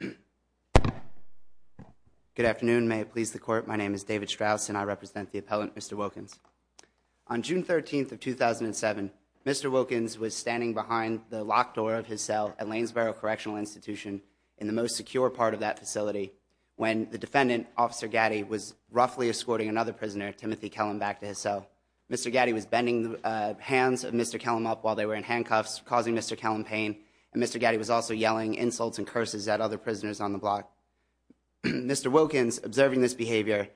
Good afternoon, may it please the Court, my name is David Strauss and I represent the appellant Mr. Wilkins. On June 13th of 2007, Mr. Wilkins was standing behind the locked door of his cell at Lanesboro Correctional Institution in the most secure part of that facility when the defendant, Officer Gaddy, was roughly escorting another prisoner, Timothy Kellum, back to his cell. Mr. Gaddy was bending the hands of Mr. Kellum up while they were in handcuffs, causing Mr. Gaddy was also yelling insults and curses at other prisoners on the block. Mr. Wilkins, observing this behavior,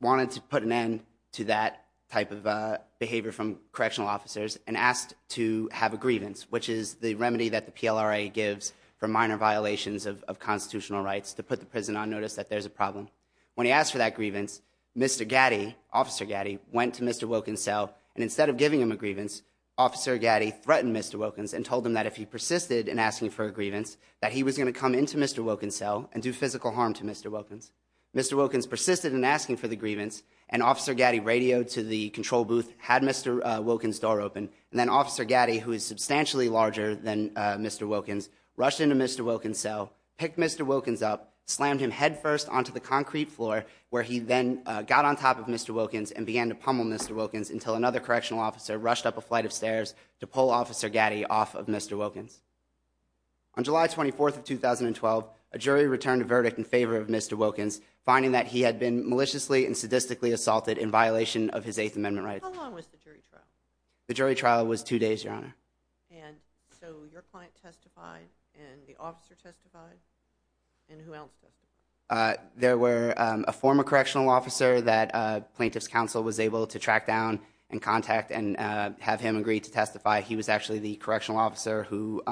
wanted to put an end to that type of behavior from correctional officers and asked to have a grievance, which is the remedy that the PLRA gives for minor violations of constitutional rights, to put the prison on notice that there's a problem. When he asked for that grievance, Mr. Gaddy, Officer Gaddy, went to Mr. Wilkins' cell and instead of giving him a grievance, Officer Gaddy threatened Mr. Wilkins and told him that if he persisted in asking for a grievance, that he was going to come into Mr. Wilkins' cell and do physical harm to Mr. Wilkins. Mr. Wilkins persisted in asking for the grievance and Officer Gaddy radioed to the control booth, had Mr. Wilkins' door open, and then Officer Gaddy, who is substantially larger than Mr. Wilkins, rushed into Mr. Wilkins' cell, picked Mr. Wilkins up, slammed him headfirst onto the concrete floor where he then got on top of Mr. Wilkins and began to pummel Mr. Wilkins until another correctional officer rushed up a flight of stairs to pull Officer Gaddy off of Mr. Wilkins. On July 24th of 2012, a jury returned a verdict in favor of Mr. Wilkins, finding that he had been maliciously and sadistically assaulted in violation of his Eighth Amendment rights. How long was the jury trial? The jury trial was two days, Your Honor. And so your client testified and the officer testified, and who else testified? There were a former correctional officer that Plaintiff's Counsel was able to track down and contact and have him agree to testify. He was actually the correctional officer who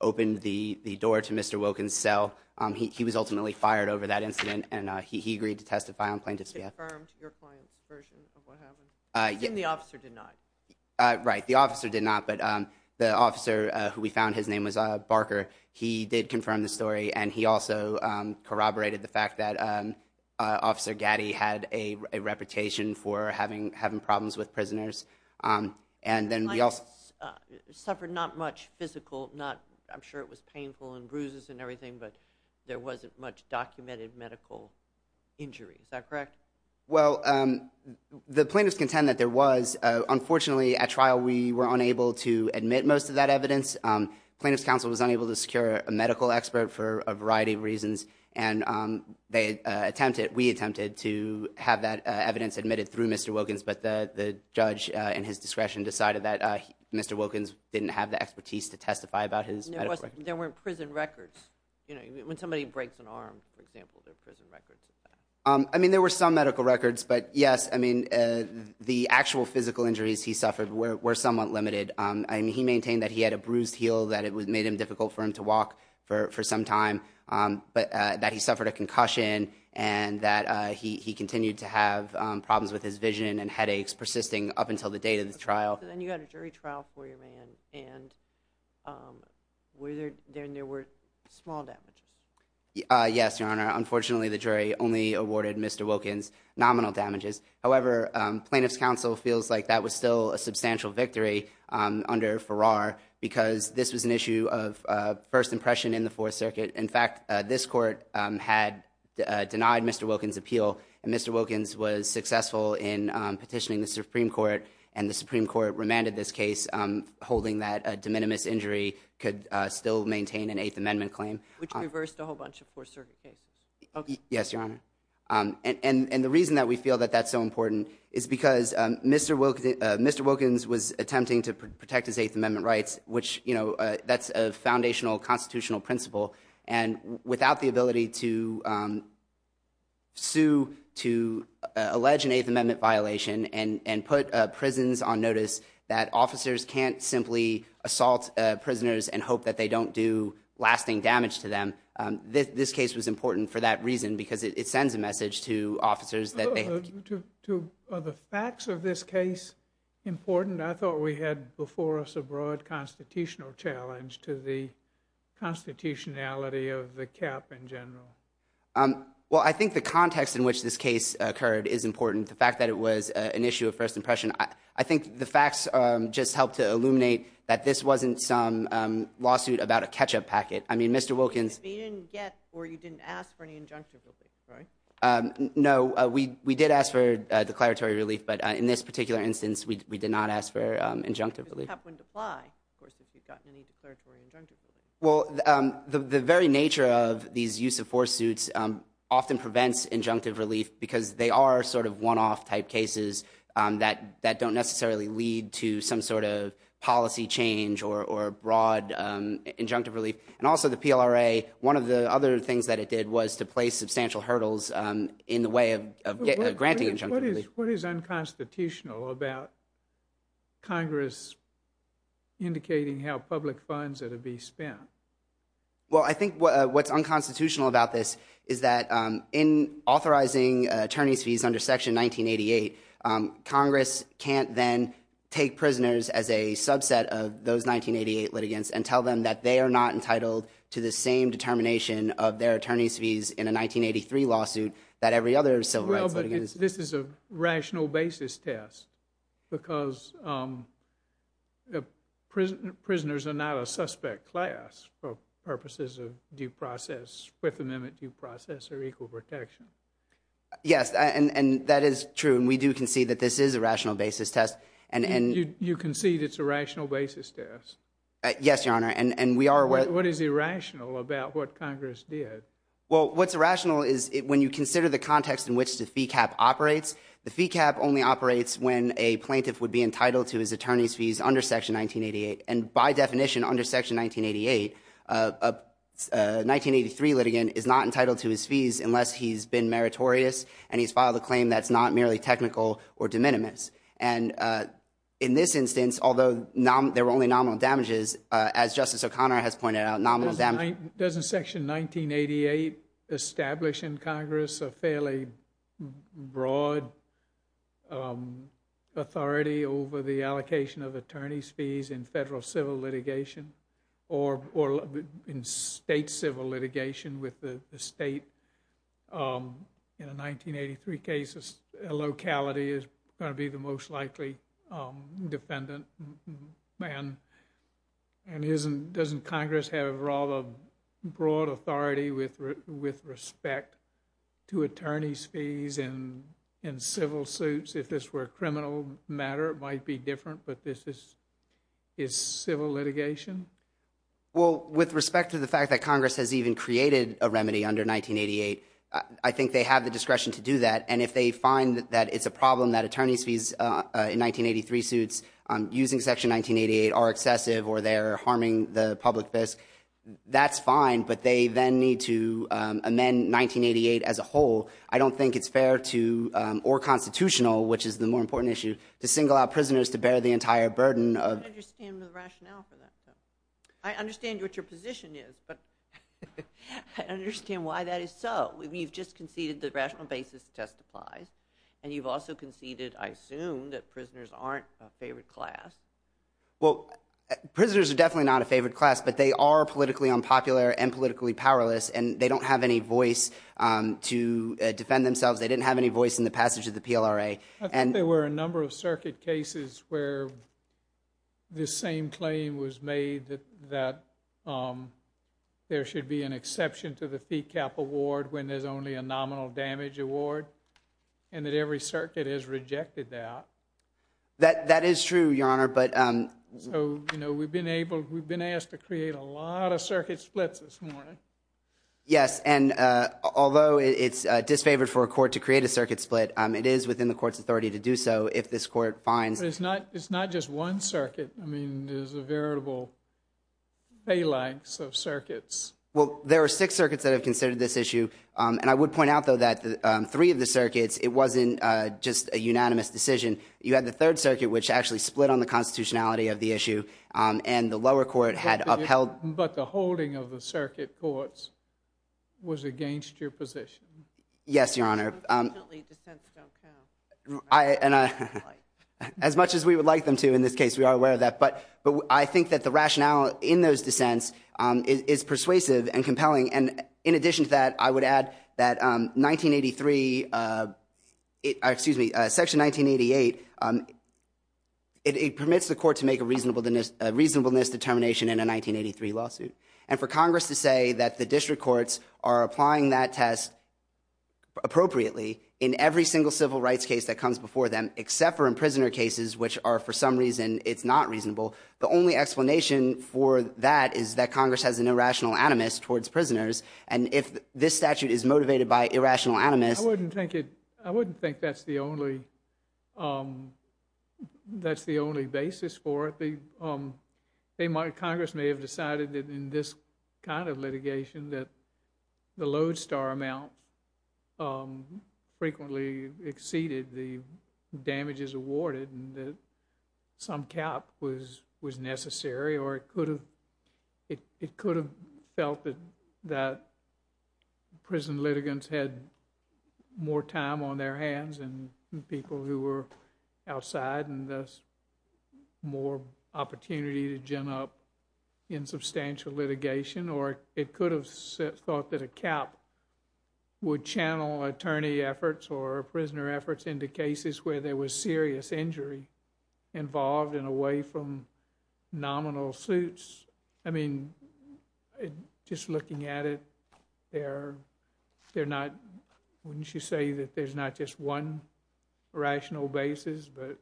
opened the door to Mr. Wilkins' cell. He was ultimately fired over that incident, and he agreed to testify on Plaintiff's behalf. You confirmed your client's version of what happened? I assume the officer did not. Right, the officer did not, but the officer who we found, his name was Barker, he did confirm the story, and he also corroborated the fact that Officer Gaddy had a reputation for having problems with prisoners. Your client suffered not much physical, not, I'm sure it was painful and bruises and everything, but there wasn't much documented medical injury, is that correct? Well, the plaintiffs contend that there was. Unfortunately, at trial, we were unable to admit most of that evidence. Plaintiff's Counsel was unable to secure a medical expert for a variety of reasons, and they attempted, we attempted to have that evidence admitted through Mr. Wilkins, but the judge, in his discretion, decided that Mr. Wilkins didn't have the expertise to testify about his medical records. There weren't prison records, you know, when somebody breaks an arm, for example, there are prison records. I mean, there were some medical records, but yes, I mean, the actual physical injuries he suffered were somewhat limited. I mean, he maintained that he had a bruised heel, that it made it difficult for him to walk for some time, that he suffered a concussion, and that he continued to have problems with his vision and headaches persisting up until the date of the trial. Okay, so then you got a jury trial for your man, and there were small damages? Yes, Your Honor, unfortunately, the jury only awarded Mr. Wilkins nominal damages, however, Plaintiff's Counsel feels like that was still a substantial victory under Farrar, because this was an issue of first impression in the Fourth Circuit. In fact, this Court had denied Mr. Wilkins' appeal, and Mr. Wilkins was successful in petitioning the Supreme Court, and the Supreme Court remanded this case, holding that a de minimis injury could still maintain an Eighth Amendment claim. Which reversed a whole bunch of Fourth Circuit cases. Yes, Your Honor, and the reason that we feel that that's so important is because Mr. Wilkins was attempting to protect his Eighth Amendment rights, which, you know, that's a foundational constitutional principle, and without the ability to sue, to allege an Eighth Amendment violation, and put prisons on notice that officers can't simply assault prisoners and hope that they don't do lasting damage to them, this case was important for that reason, because it sends a message to officers that they have to... Are the facts of this case important? I thought we had before us a broad constitutional challenge to the constitutionality of the cap in general. Well, I think the context in which this case occurred is important. The fact that it was an issue of first impression, I think the facts just help to illuminate that this wasn't some lawsuit about a catch-up packet. I mean, Mr. Wilkins... But you didn't get, or you didn't ask for any injunctive relief, right? No. We did ask for declaratory relief, but in this particular instance, we did not ask for injunctive relief. Because the cap wouldn't apply, of course, if you'd gotten any declaratory injunctive relief. Well, the very nature of these use-of-force suits often prevents injunctive relief, because they are sort of one-off type cases that don't necessarily lead to some sort of policy change or broad injunctive relief, and also the PLRA, one of the other things that it did was to place substantial hurdles in the way of granting injunctive relief. What is unconstitutional about Congress indicating how public funds are to be spent? Well, I think what's unconstitutional about this is that in authorizing attorney's fees under Section 1988, Congress can't then take prisoners as a subset of those 1988 litigants and tell them that they are not entitled to the same determination of their attorney's fees in a 1983 lawsuit that every other civil rights litigant is. Well, but this is a rational basis test, because prisoners are not a suspect class for purposes of due process, Fifth Amendment due process, or equal protection. Yes, and that is true, and we do concede that this is a rational basis test. You concede it's a rational basis test? Yes, Your Honor, and we are aware— What is irrational about what Congress did? Well, what's irrational is when you consider the context in which the fee cap operates, the fee cap only operates when a plaintiff would be entitled to his attorney's fees under Section 1988, and by definition, under Section 1988, a 1983 litigant is not entitled to his fees unless he's been meritorious and he's filed a claim that's not merely technical or de minimis, and in this instance, although there were only nominal damages, as Justice O'Connor has pointed out, nominal damages— Doesn't Section 1988 establish in Congress a fairly broad authority over the allocation of attorney's fees in federal civil litigation or in state civil litigation with the state? In a 1983 case, a locality is going to be the most likely defendant, and doesn't Congress have a rather broad authority with respect to attorney's fees in civil suits? If this were a criminal matter, it might be different, but this is civil litigation? Well, with respect to the fact that Congress has even created a remedy under 1988, I think they have the discretion to do that, and if they find that it's a problem that attorney's suits using Section 1988 are excessive or they're harming the public, that's fine, but they then need to amend 1988 as a whole. I don't think it's fair to—or constitutional, which is the more important issue—to single out prisoners to bear the entire burden of— I don't understand the rationale for that. I understand what your position is, but I don't understand why that is so. You've just conceded that rational basis testifies, and you've also conceded, I assume, that prisoners aren't a favored class. Well, prisoners are definitely not a favored class, but they are politically unpopular and politically powerless, and they don't have any voice to defend themselves. They didn't have any voice in the passage of the PLRA. I think there were a number of circuit cases where this same claim was made that there should be an exception to the fee cap award when there's only a nominal damage award, and that every circuit has rejected that. That is true, Your Honor, but— So, you know, we've been asked to create a lot of circuit splits this morning. Yes, and although it's disfavored for a court to create a circuit split, it is within the court's authority to do so if this court finds— But it's not just one circuit. I mean, there's a variable phalanx of circuits. Well, there are six circuits that have considered this issue, and I would point out, though, that three of the circuits, it wasn't just a unanimous decision. You had the Third Circuit, which actually split on the constitutionality of the issue, and the lower court had upheld— But the holding of the circuit courts was against your position. Yes, Your Honor. Unfortunately, dissents don't count. As much as we would like them to in this case, we are aware of that, but I think that the rationale in those dissents is persuasive and compelling, and in addition to that, I think that Section 1983—excuse me, Section 1988, it permits the court to make a reasonableness determination in a 1983 lawsuit, and for Congress to say that the district courts are applying that test appropriately in every single civil rights case that comes before them, except for imprisoner cases, which are, for some reason, it's not reasonable, the only explanation for that is that Congress has an irrational animus towards prisoners, and if this statute is motivated by irrational animus— I wouldn't think that's the only basis for it. Congress may have decided that in this kind of litigation that the lodestar amount frequently exceeded the damages awarded, and that some cap was necessary, or it could have felt that the prison litigants had more time on their hands than people who were outside, and thus more opportunity to gem up in substantial litigation, or it could have thought that a cap would channel attorney efforts or prisoner efforts into cases where there was serious injury involved and away from nominal suits. I mean, just looking at it, they're not—wouldn't you say that there's not just one rational basis, but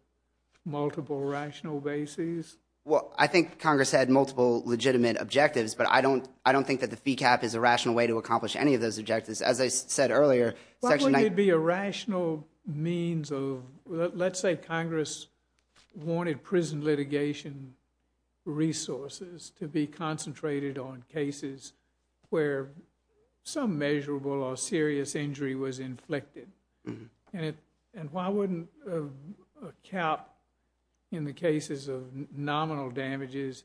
multiple rational bases? Well, I think Congress had multiple legitimate objectives, but I don't think that the fee cap is a rational way to accomplish any of those objectives. As I said earlier, Section— It'd be a rational means of—let's say Congress wanted prison litigation resources to be concentrated on cases where some measurable or serious injury was inflicted, and why wouldn't a cap in the cases of nominal damages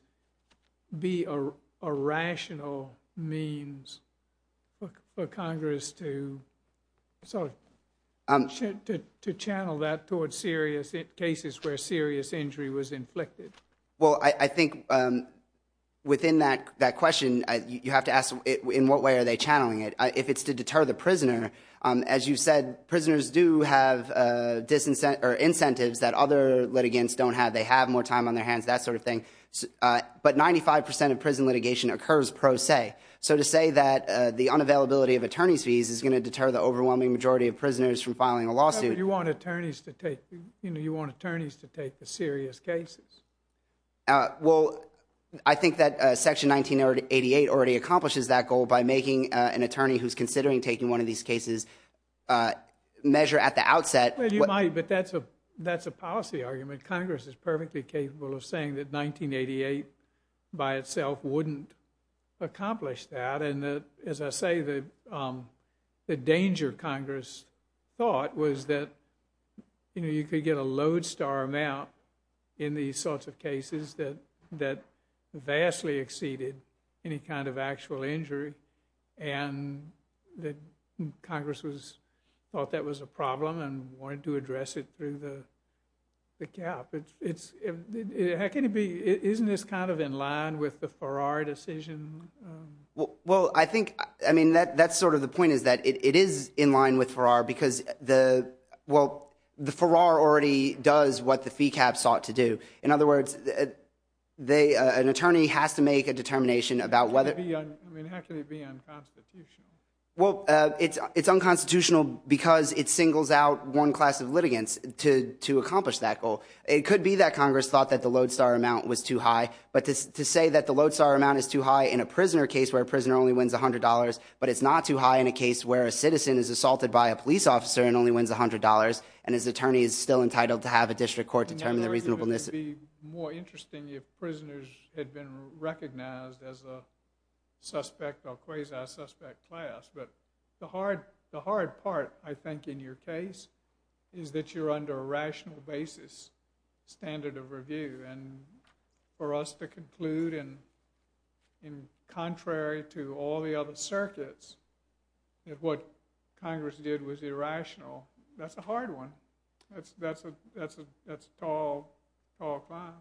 be a rational means for Congress to channel that towards serious—cases where serious injury was inflicted? Well, I think within that question, you have to ask, in what way are they channeling it? If it's to deter the prisoner, as you said, prisoners do have incentives that other litigants don't have. They have more time on their hands, that sort of thing. But 95 percent of prison litigation occurs pro se. So to say that the unavailability of attorney's fees is going to deter the overwhelming majority of prisoners from filing a lawsuit— But you want attorneys to take the serious cases. Well, I think that Section 1988 already accomplishes that goal by making an attorney who's considering taking one of these cases measure at the outset— Well, you might, but that's a policy argument. Congress is perfectly capable of saying that 1988 by itself wouldn't accomplish that. And as I say, the danger Congress thought was that you could get a lodestar amount in these sorts of cases that vastly exceeded any kind of actual injury. And Congress thought that was a problem and wanted to address it through the cap. Isn't this kind of in line with the Farrar decision? Well, I think, I mean, that's sort of the point is that it is in line with Farrar because well, the Farrar already does what the fee cap sought to do. In other words, an attorney has to make a determination about whether— I mean, how can it be unconstitutional? Well, it's unconstitutional because it singles out one class of litigants to accomplish that goal. It could be that Congress thought that the lodestar amount was too high, but to say that the lodestar amount is too high in a prisoner case where a prisoner only wins $100, but it's not too high in a case where a citizen is assaulted by a police officer and only wins $100, and his attorney is still entitled to have a district court determine the reasonableness— It would be more interesting if prisoners had been recognized as a suspect or quasi-suspect class. But the hard part, I think, in your case is that you're under a rational basis standard of review. And for us to conclude in contrary to all the other circuits that what Congress did was irrational, that's a hard one. That's a tall, tall climb.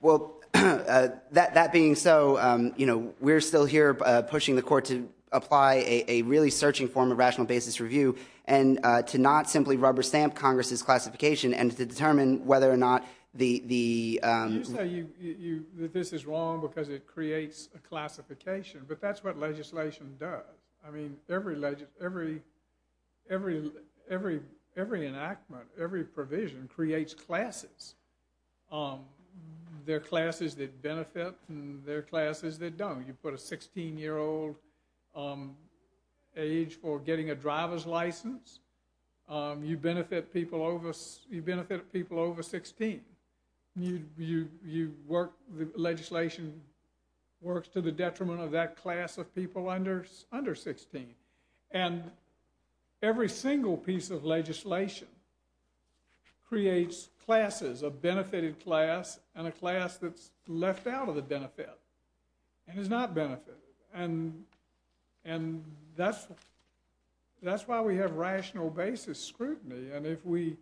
Well, that being so, you know, we're still here pushing the court to apply a really searching form of rational basis review and to not simply rubber stamp Congress's classification and to determine whether or not the— You say that this is wrong because it creates a classification, but that's what legislation does. I mean, every enactment, every provision creates classes. There are classes that benefit and there are classes that don't. You put a 16-year-old age for getting a driver's license. You benefit people over 16. You work—legislation works to the detriment of that class of people under 16. And every single piece of legislation creates classes, a benefited class and a class that's left out of the benefit and is not benefited. And that's why we have rational basis scrutiny. And if we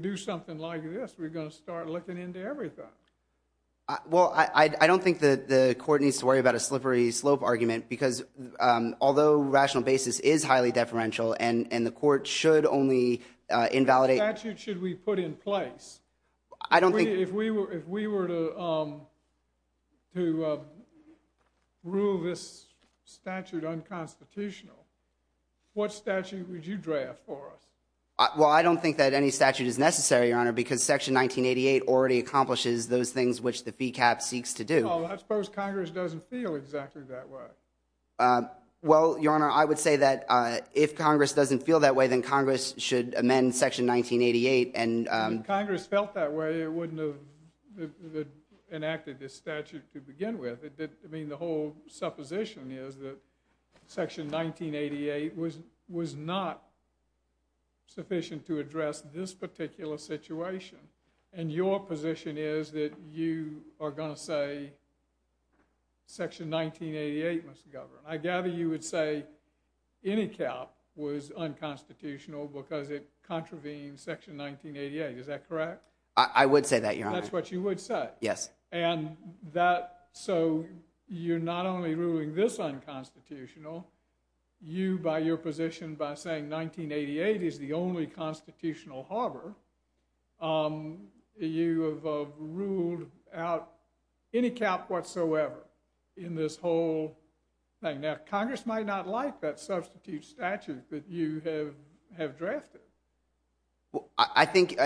do something like this, we're going to start looking into everything. Well, I don't think that the court needs to worry about a slippery slope argument because although rational basis is highly deferential and the court should only invalidate— What statute should we put in place? I don't think— If we were to rule this statute unconstitutional, what statute would you draft for us? Well, I don't think that any statute is necessary, Your Honor, because Section 1988 already accomplishes those things which the fee cap seeks to do. Well, I suppose Congress doesn't feel exactly that way. Well, Your Honor, I would say that if Congress doesn't feel that way, then Congress should amend Section 1988 and— that enacted this statute to begin with. The whole supposition is that Section 1988 was not sufficient to address this particular situation. And your position is that you are going to say Section 1988 must govern. I gather you would say any cap was unconstitutional because it contravenes Section 1988. Is that correct? I would say that, Your Honor. That's what you would say? Yes. And that— so you're not only ruling this unconstitutional, you, by your position, by saying 1988 is the only constitutional harbor, you have ruled out any cap whatsoever in this whole thing. Now, Congress might not like that substitute statute that you have drafted. Well, I think—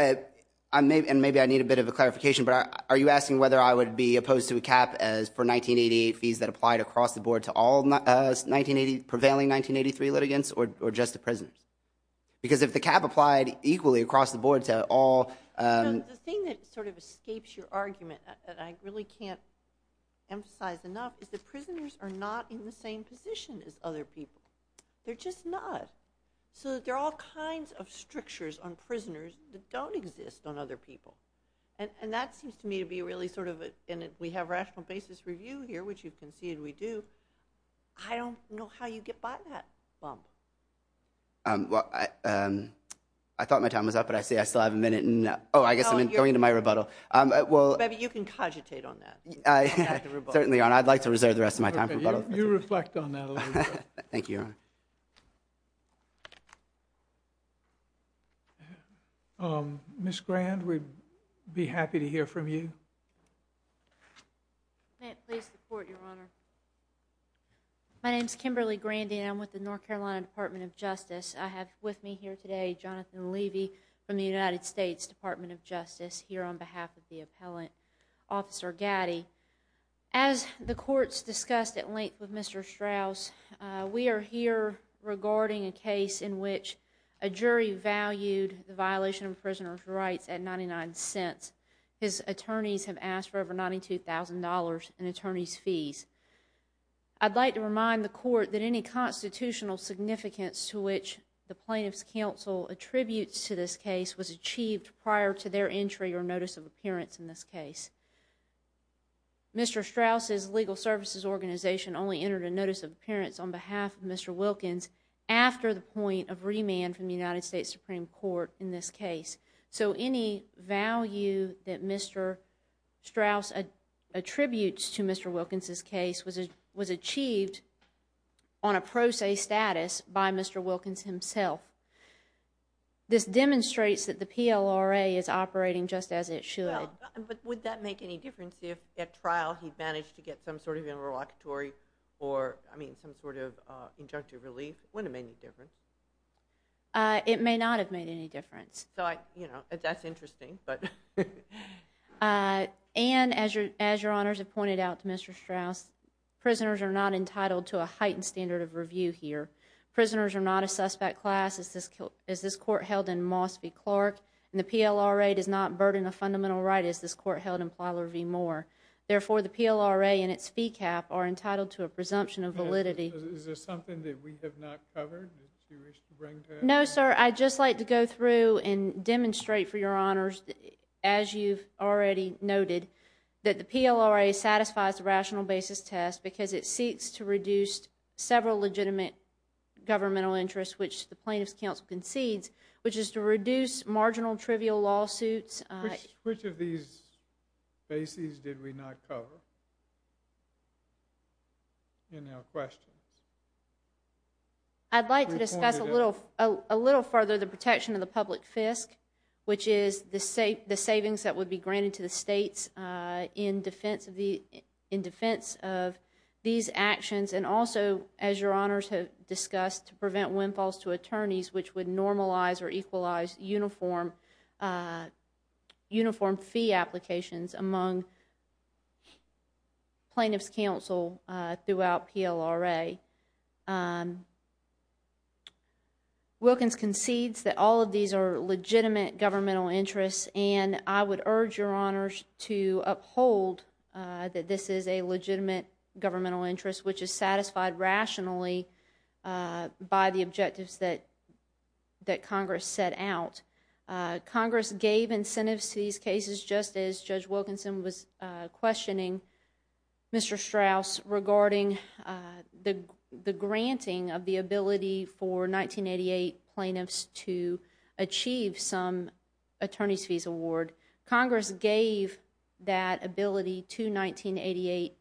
and maybe I need a bit of a clarification, but are you asking whether I would be opposed to a cap for 1988 fees that applied across the board to all prevailing 1983 litigants or just the prisoners? Because if the cap applied equally across the board to all— You know, the thing that sort of escapes your argument that I really can't emphasize enough is that prisoners are not in the same position as other people. They're just not. So there are all kinds of strictures on prisoners that don't exist on other people. And that seems to me to be really sort of a— and we have rational basis review here, which you can see, and we do. I don't know how you get by that bump. Well, I thought my time was up, but I see I still have a minute, and— Oh, I guess I'm going into my rebuttal. Maybe you can cogitate on that. Certainly, Your Honor. I'd like to reserve the rest of my time for rebuttal. You reflect on that a little bit. Thank you, Your Honor. Ms. Grand, we'd be happy to hear from you. May it please the Court, Your Honor. My name is Kimberly Grandy, and I'm with the North Carolina Department of Justice. I have with me here today Jonathan Levy from the United States Department of Justice here on behalf of the appellant, Officer Gaddy. As the Court's discussed at length with Mr. Strauss, we are here regarding a case in which a jury valued the violation of a prisoner's rights at $0.99. His attorneys have asked for over $92,000 in attorney's fees. I'd like to remind the Court that any constitutional significance to which the plaintiff's counsel attributes to this case was achieved prior to their entry or notice of appearance in this case. Mr. Strauss' legal services organization only entered a notice of appearance on behalf of Mr. Wilkins after the point of remand from the United States Supreme Court in this case. So any value that Mr. Strauss attributes to Mr. Wilkins' case was achieved on a pro se status by Mr. Wilkins himself. This demonstrates that the PLRA is operating just as it should. Would that make any difference if at trial he managed to get some sort of interlocutory or I mean some sort of injunctive relief? Wouldn't it make any difference? It may not have made any difference. That's interesting. And as your honors have pointed out to Mr. Strauss, prisoners are not entitled to a heightened standard of review here. And the PLRA does not burden a fundamental right as this court held in Plyler v. Moore. Therefore, the PLRA and its fee cap are entitled to a presumption of validity. Is there something that we have not covered that you wish to bring to us? No, sir. I'd just like to go through and demonstrate for your honors, as you've already noted, that the PLRA satisfies the rational basis test because it seeks to reduce several legitimate governmental interests which the plaintiff's counsel concedes, which is to reduce marginal trivial lawsuits. Which of these bases did we not cover in our questions? I'd like to discuss a little further the protection of the public fisc, which is the savings that would be granted to the states in defense of these actions. And also, as your honors have discussed, to prevent windfalls to attorneys which would normalize or equalize uniform fee applications among plaintiff's counsel throughout PLRA. Wilkins concedes that all of these are legitimate governmental interests, and I would urge your honors to uphold that this is a legitimate governmental interest, which is satisfied rationally by the objectives that Congress set out. Congress gave incentives to these cases, just as Judge Wilkinson was questioning Mr. Strauss regarding the granting of the ability for 1988 plaintiffs to achieve some attorney's fees award. Congress gave that ability to 1988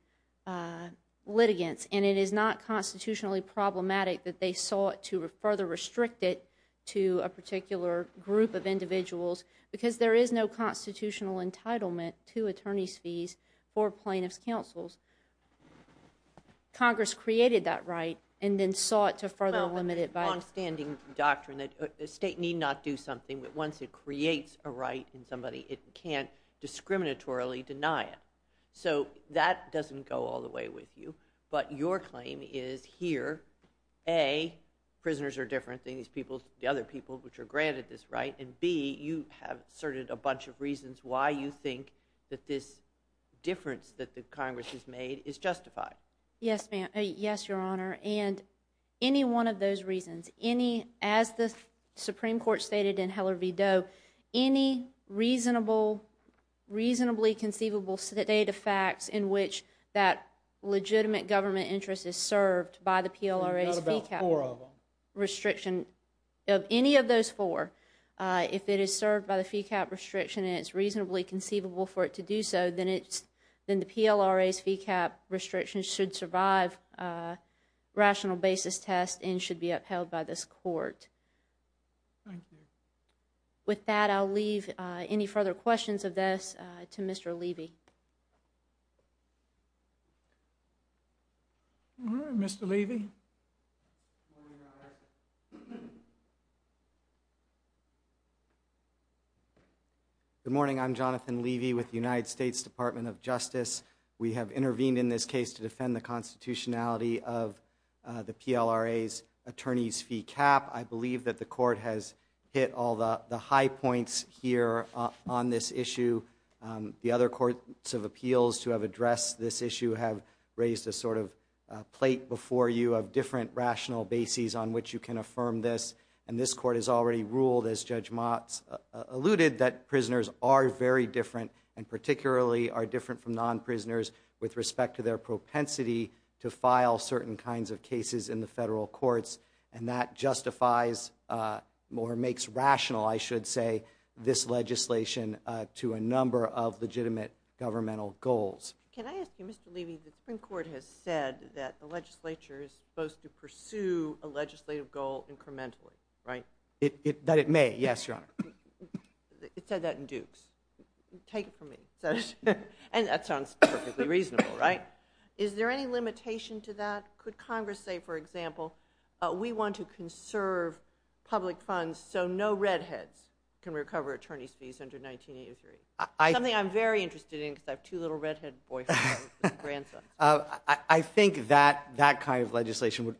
litigants, and it is not constitutionally problematic that they sought to further restrict it to a particular group of individuals because there is no constitutional entitlement to attorney's fees for plaintiff's counsels. Congress created that right and then sought to further limit it by- state need not do something, but once it creates a right in somebody, it can't discriminatorily deny it. So that doesn't go all the way with you, but your claim is here, A, prisoners are different than these people, the other people which are granted this right, and B, you have asserted a bunch of reasons why you think that this difference that the Congress has made is justified. Yes, your honor, and any one of those any, as the Supreme Court stated in Heller v. Doe, any reasonable, reasonably conceivable data facts in which that legitimate government interest is served by the PLRA's fee cap restriction, of any of those four, if it is served by the fee cap restriction and it's reasonably conceivable for it to do so, then the PLRA's fee cap restriction should survive rational basis test and should be upheld by this court. Thank you. With that, I'll leave any further questions of this to Mr. Levy. Mr. Levy. Good morning, I'm Jonathan Levy with the United States Department of Justice. We have intervened in this case to defend the constitutionality of the PLRA's attorney's fee cap. I believe that the court has hit all the high points here on this issue. The other courts of appeals who have addressed this issue have raised a sort of plate before you of different rational bases on which you can affirm this, and this court has already ruled, as Judge Motz alluded, that prisoners are very different and particularly are different from non-prisoners with respect to their propensity to file certain kinds of cases in the federal courts, and that justifies or makes rational, I should say, this legislation to a number of legitimate governmental goals. Can I ask you, Mr. Levy, the Supreme Court has said that the legislature is supposed to pursue a legislative goal incrementally, right? That it may, yes, Your Honor. It said that in Dukes. Take it from me. And that sounds perfectly reasonable, right? Is there any limitation to that? Could Congress say, for example, we want to conserve public funds so no redheads can recover attorney's fees under 1983? Something I'm very interested in because I have two little redhead boyfriends and grandsons. I think that kind of legislation would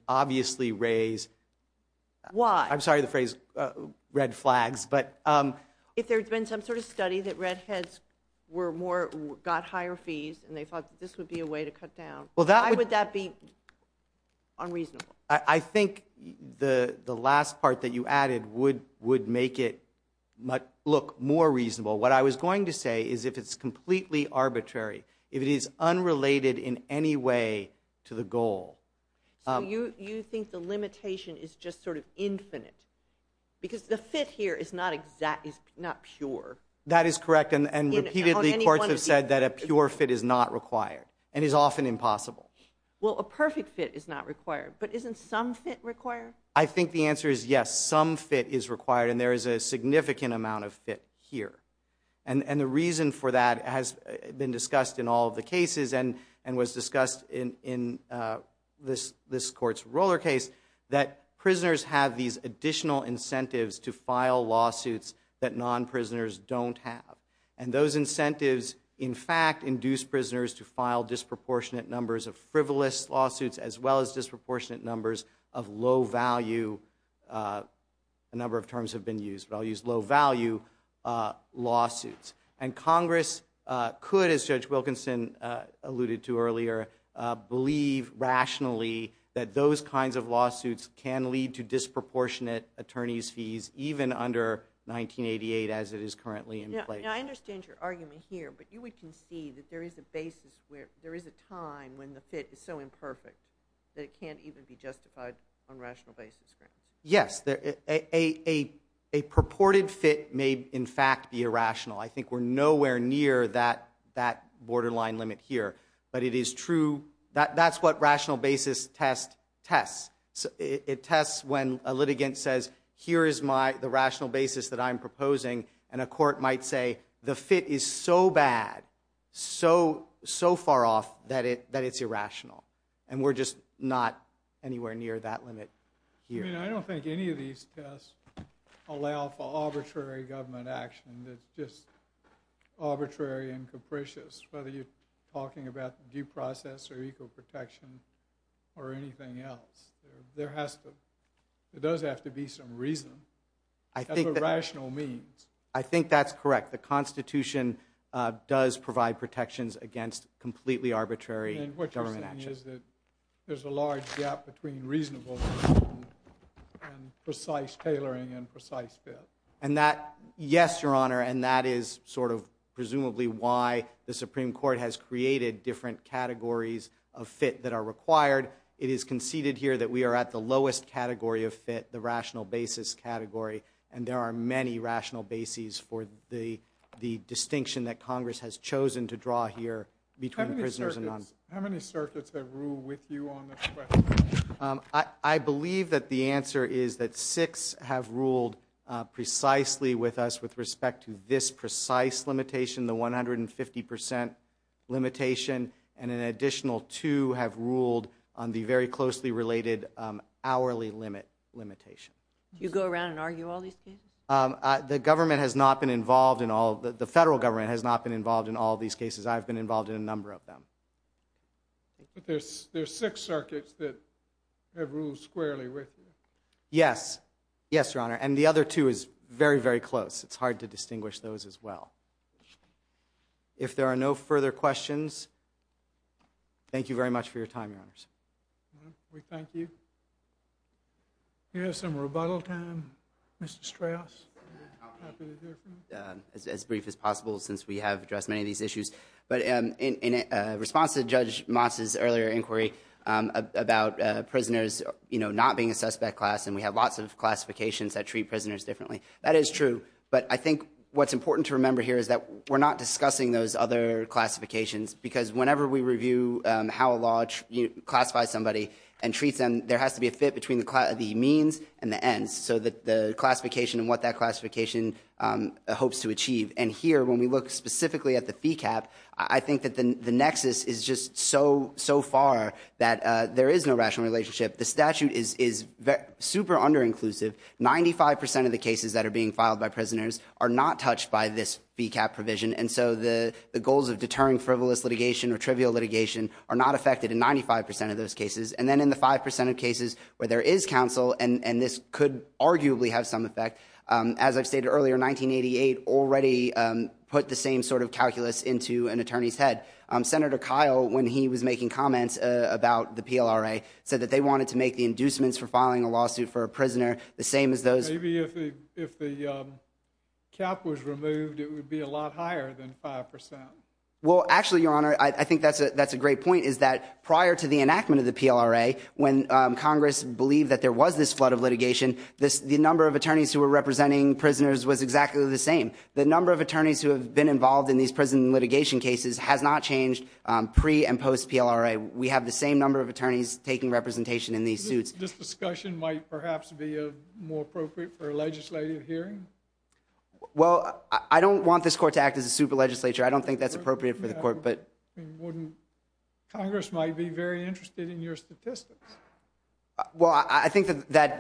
If there's been some sort of study that redheads got higher fees and they thought that this would be a way to cut down, why would that be unreasonable? I think the last part that you added would make it look more reasonable. What I was going to say is if it's completely arbitrary, if it is unrelated in any way to the goal. So you think the limitation is just sort of not pure? That is correct. And repeatedly courts have said that a pure fit is not required and is often impossible. Well, a perfect fit is not required, but isn't some fit required? I think the answer is yes, some fit is required and there is a significant amount of fit here. And the reason for that has been discussed in all of the cases and was discussed in this court's roller case that prisoners have these additional incentives to file lawsuits that non-prisoners don't have. And those incentives in fact induce prisoners to file disproportionate numbers of frivolous lawsuits as well as disproportionate numbers of low value, a number of terms have been used, but I'll use low value lawsuits. And Congress could, as Judge Wilkinson alluded to earlier, believe rationally that those kinds of lawsuits can lead to disproportionate attorney's fees, even under 1988 as it is currently in place. I understand your argument here, but you would concede that there is a basis where there is a time when the fit is so imperfect that it can't even be justified on rational basis grounds. Yes, a purported fit may in fact be irrational. I think we're nowhere near that borderline limit here, but it is true. That's what rational basis test tests. It tests when a litigant says, here is the rational basis that I'm proposing. And a court might say, the fit is so bad, so far off that it's irrational. And we're just not anywhere near that limit here. I don't think any of these tests allow for arbitrary government action that's just arbitrary and capricious, whether you're talking about due process or equal protection or anything else. There does have to be some reason. That's what rational means. I think that's correct. The Constitution does provide protections against completely arbitrary government action. And what you're saying is that there's a large gap between reasonable and precise tailoring and precise fit. And that, yes, Your Honor, and that is sort of presumably why the Supreme Court has created different categories of fit that are required. It is conceded here that we are at the lowest category of fit, the rational basis category, and there are many rational bases for the How many circuits have ruled with you on this question? I believe that the answer is that six have ruled precisely with us with respect to this precise limitation, the 150 percent limitation, and an additional two have ruled on the very closely related hourly limit limitation. Do you go around and argue all these cases? The government has not been involved in all, the federal government has not been involved in all these cases. I've been involved in a number of them. But there's six circuits that have ruled squarely with you. Yes. Yes, Your Honor. And the other two is very, very close. It's hard to distinguish those as well. If there are no further questions, thank you very much for your time, Your Honors. We thank you. Here's some rebuttal time, Mr. Strauss. As brief as possible, since we have addressed many of these issues. But in response to Judge Motz's earlier inquiry about prisoners not being a suspect class, and we have lots of classifications that treat prisoners differently, that is true. But I think what's important to remember here is that we're not discussing those other classifications, because whenever we review how a law classifies somebody and treats them, there has to be a fit between the means and the ends. So the classification and what that classification hopes to achieve. And here, when we look specifically at the fee cap, I think that the nexus is just so, so far that there is no rational relationship. The statute is super under-inclusive. Ninety-five percent of the cases that are being filed by prisoners are not touched by this fee cap provision. And so the goals of deterring frivolous litigation or trivial litigation are not affected in 95 percent of those cases. And then in the 5 percent of cases where there is counsel, and this could arguably have some put the same sort of calculus into an attorney's head. Senator Kyle, when he was making comments about the PLRA, said that they wanted to make the inducements for filing a lawsuit for a prisoner the same as those. Maybe if the cap was removed, it would be a lot higher than 5 percent. Well, actually, Your Honor, I think that's a great point, is that prior to the enactment of the PLRA, when Congress believed that there was this flood of litigation, the number of attorneys who have been involved in these prison litigation cases has not changed pre- and post-PLRA. We have the same number of attorneys taking representation in these suits. This discussion might perhaps be more appropriate for a legislative hearing? Well, I don't want this court to act as a super legislature. I don't think that's appropriate for the court. Congress might be very interested in your statistics. Well, I think that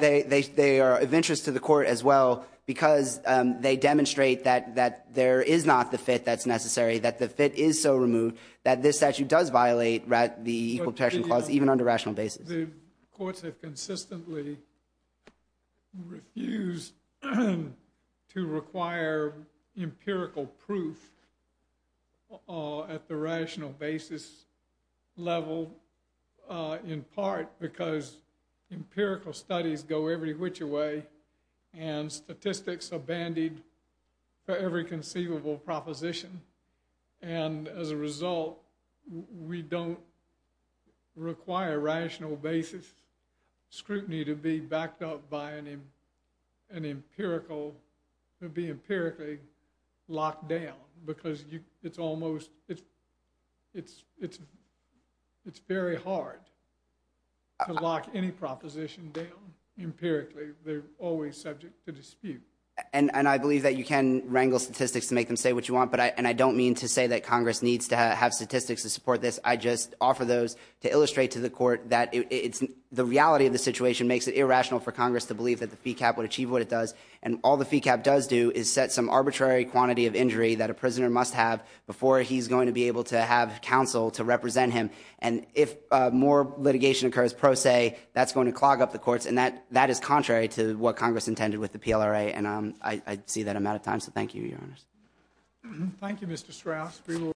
they are of interest to the court as well because they demonstrate that there is not the fit that's necessary, that the fit is so removed that this statute does violate the Equal Protection Clause, even on a rational basis. But the courts have consistently refused to require empirical proof at the rational basis level, in part because empirical studies go every which way and statistics are bandied for every conceivable proposition. And as a result, we don't require a rational basis scrutiny to be backed up by an empirical, to be empirically locked down because it's almost, it's very hard to lock any proposition down empirically. They're always subject to dispute. And I believe that you can wrangle statistics to make them say what you want, and I don't mean to say that Congress needs to have statistics to support this. I just offer those to illustrate to the court that the reality of the situation makes it irrational for Congress to believe that the fee cap would achieve what it does. And all the fee cap does do is set some arbitrary quantity of injury that a prisoner must have before he's going to be able to have counsel to represent him. And if more litigation occurs pro se, that's going to clog up the courts. And that is contrary to what Congress intended with the PLRA, and I see that I'm out of time. So thank you, Your Honor. Thank you, Mr. Strauss.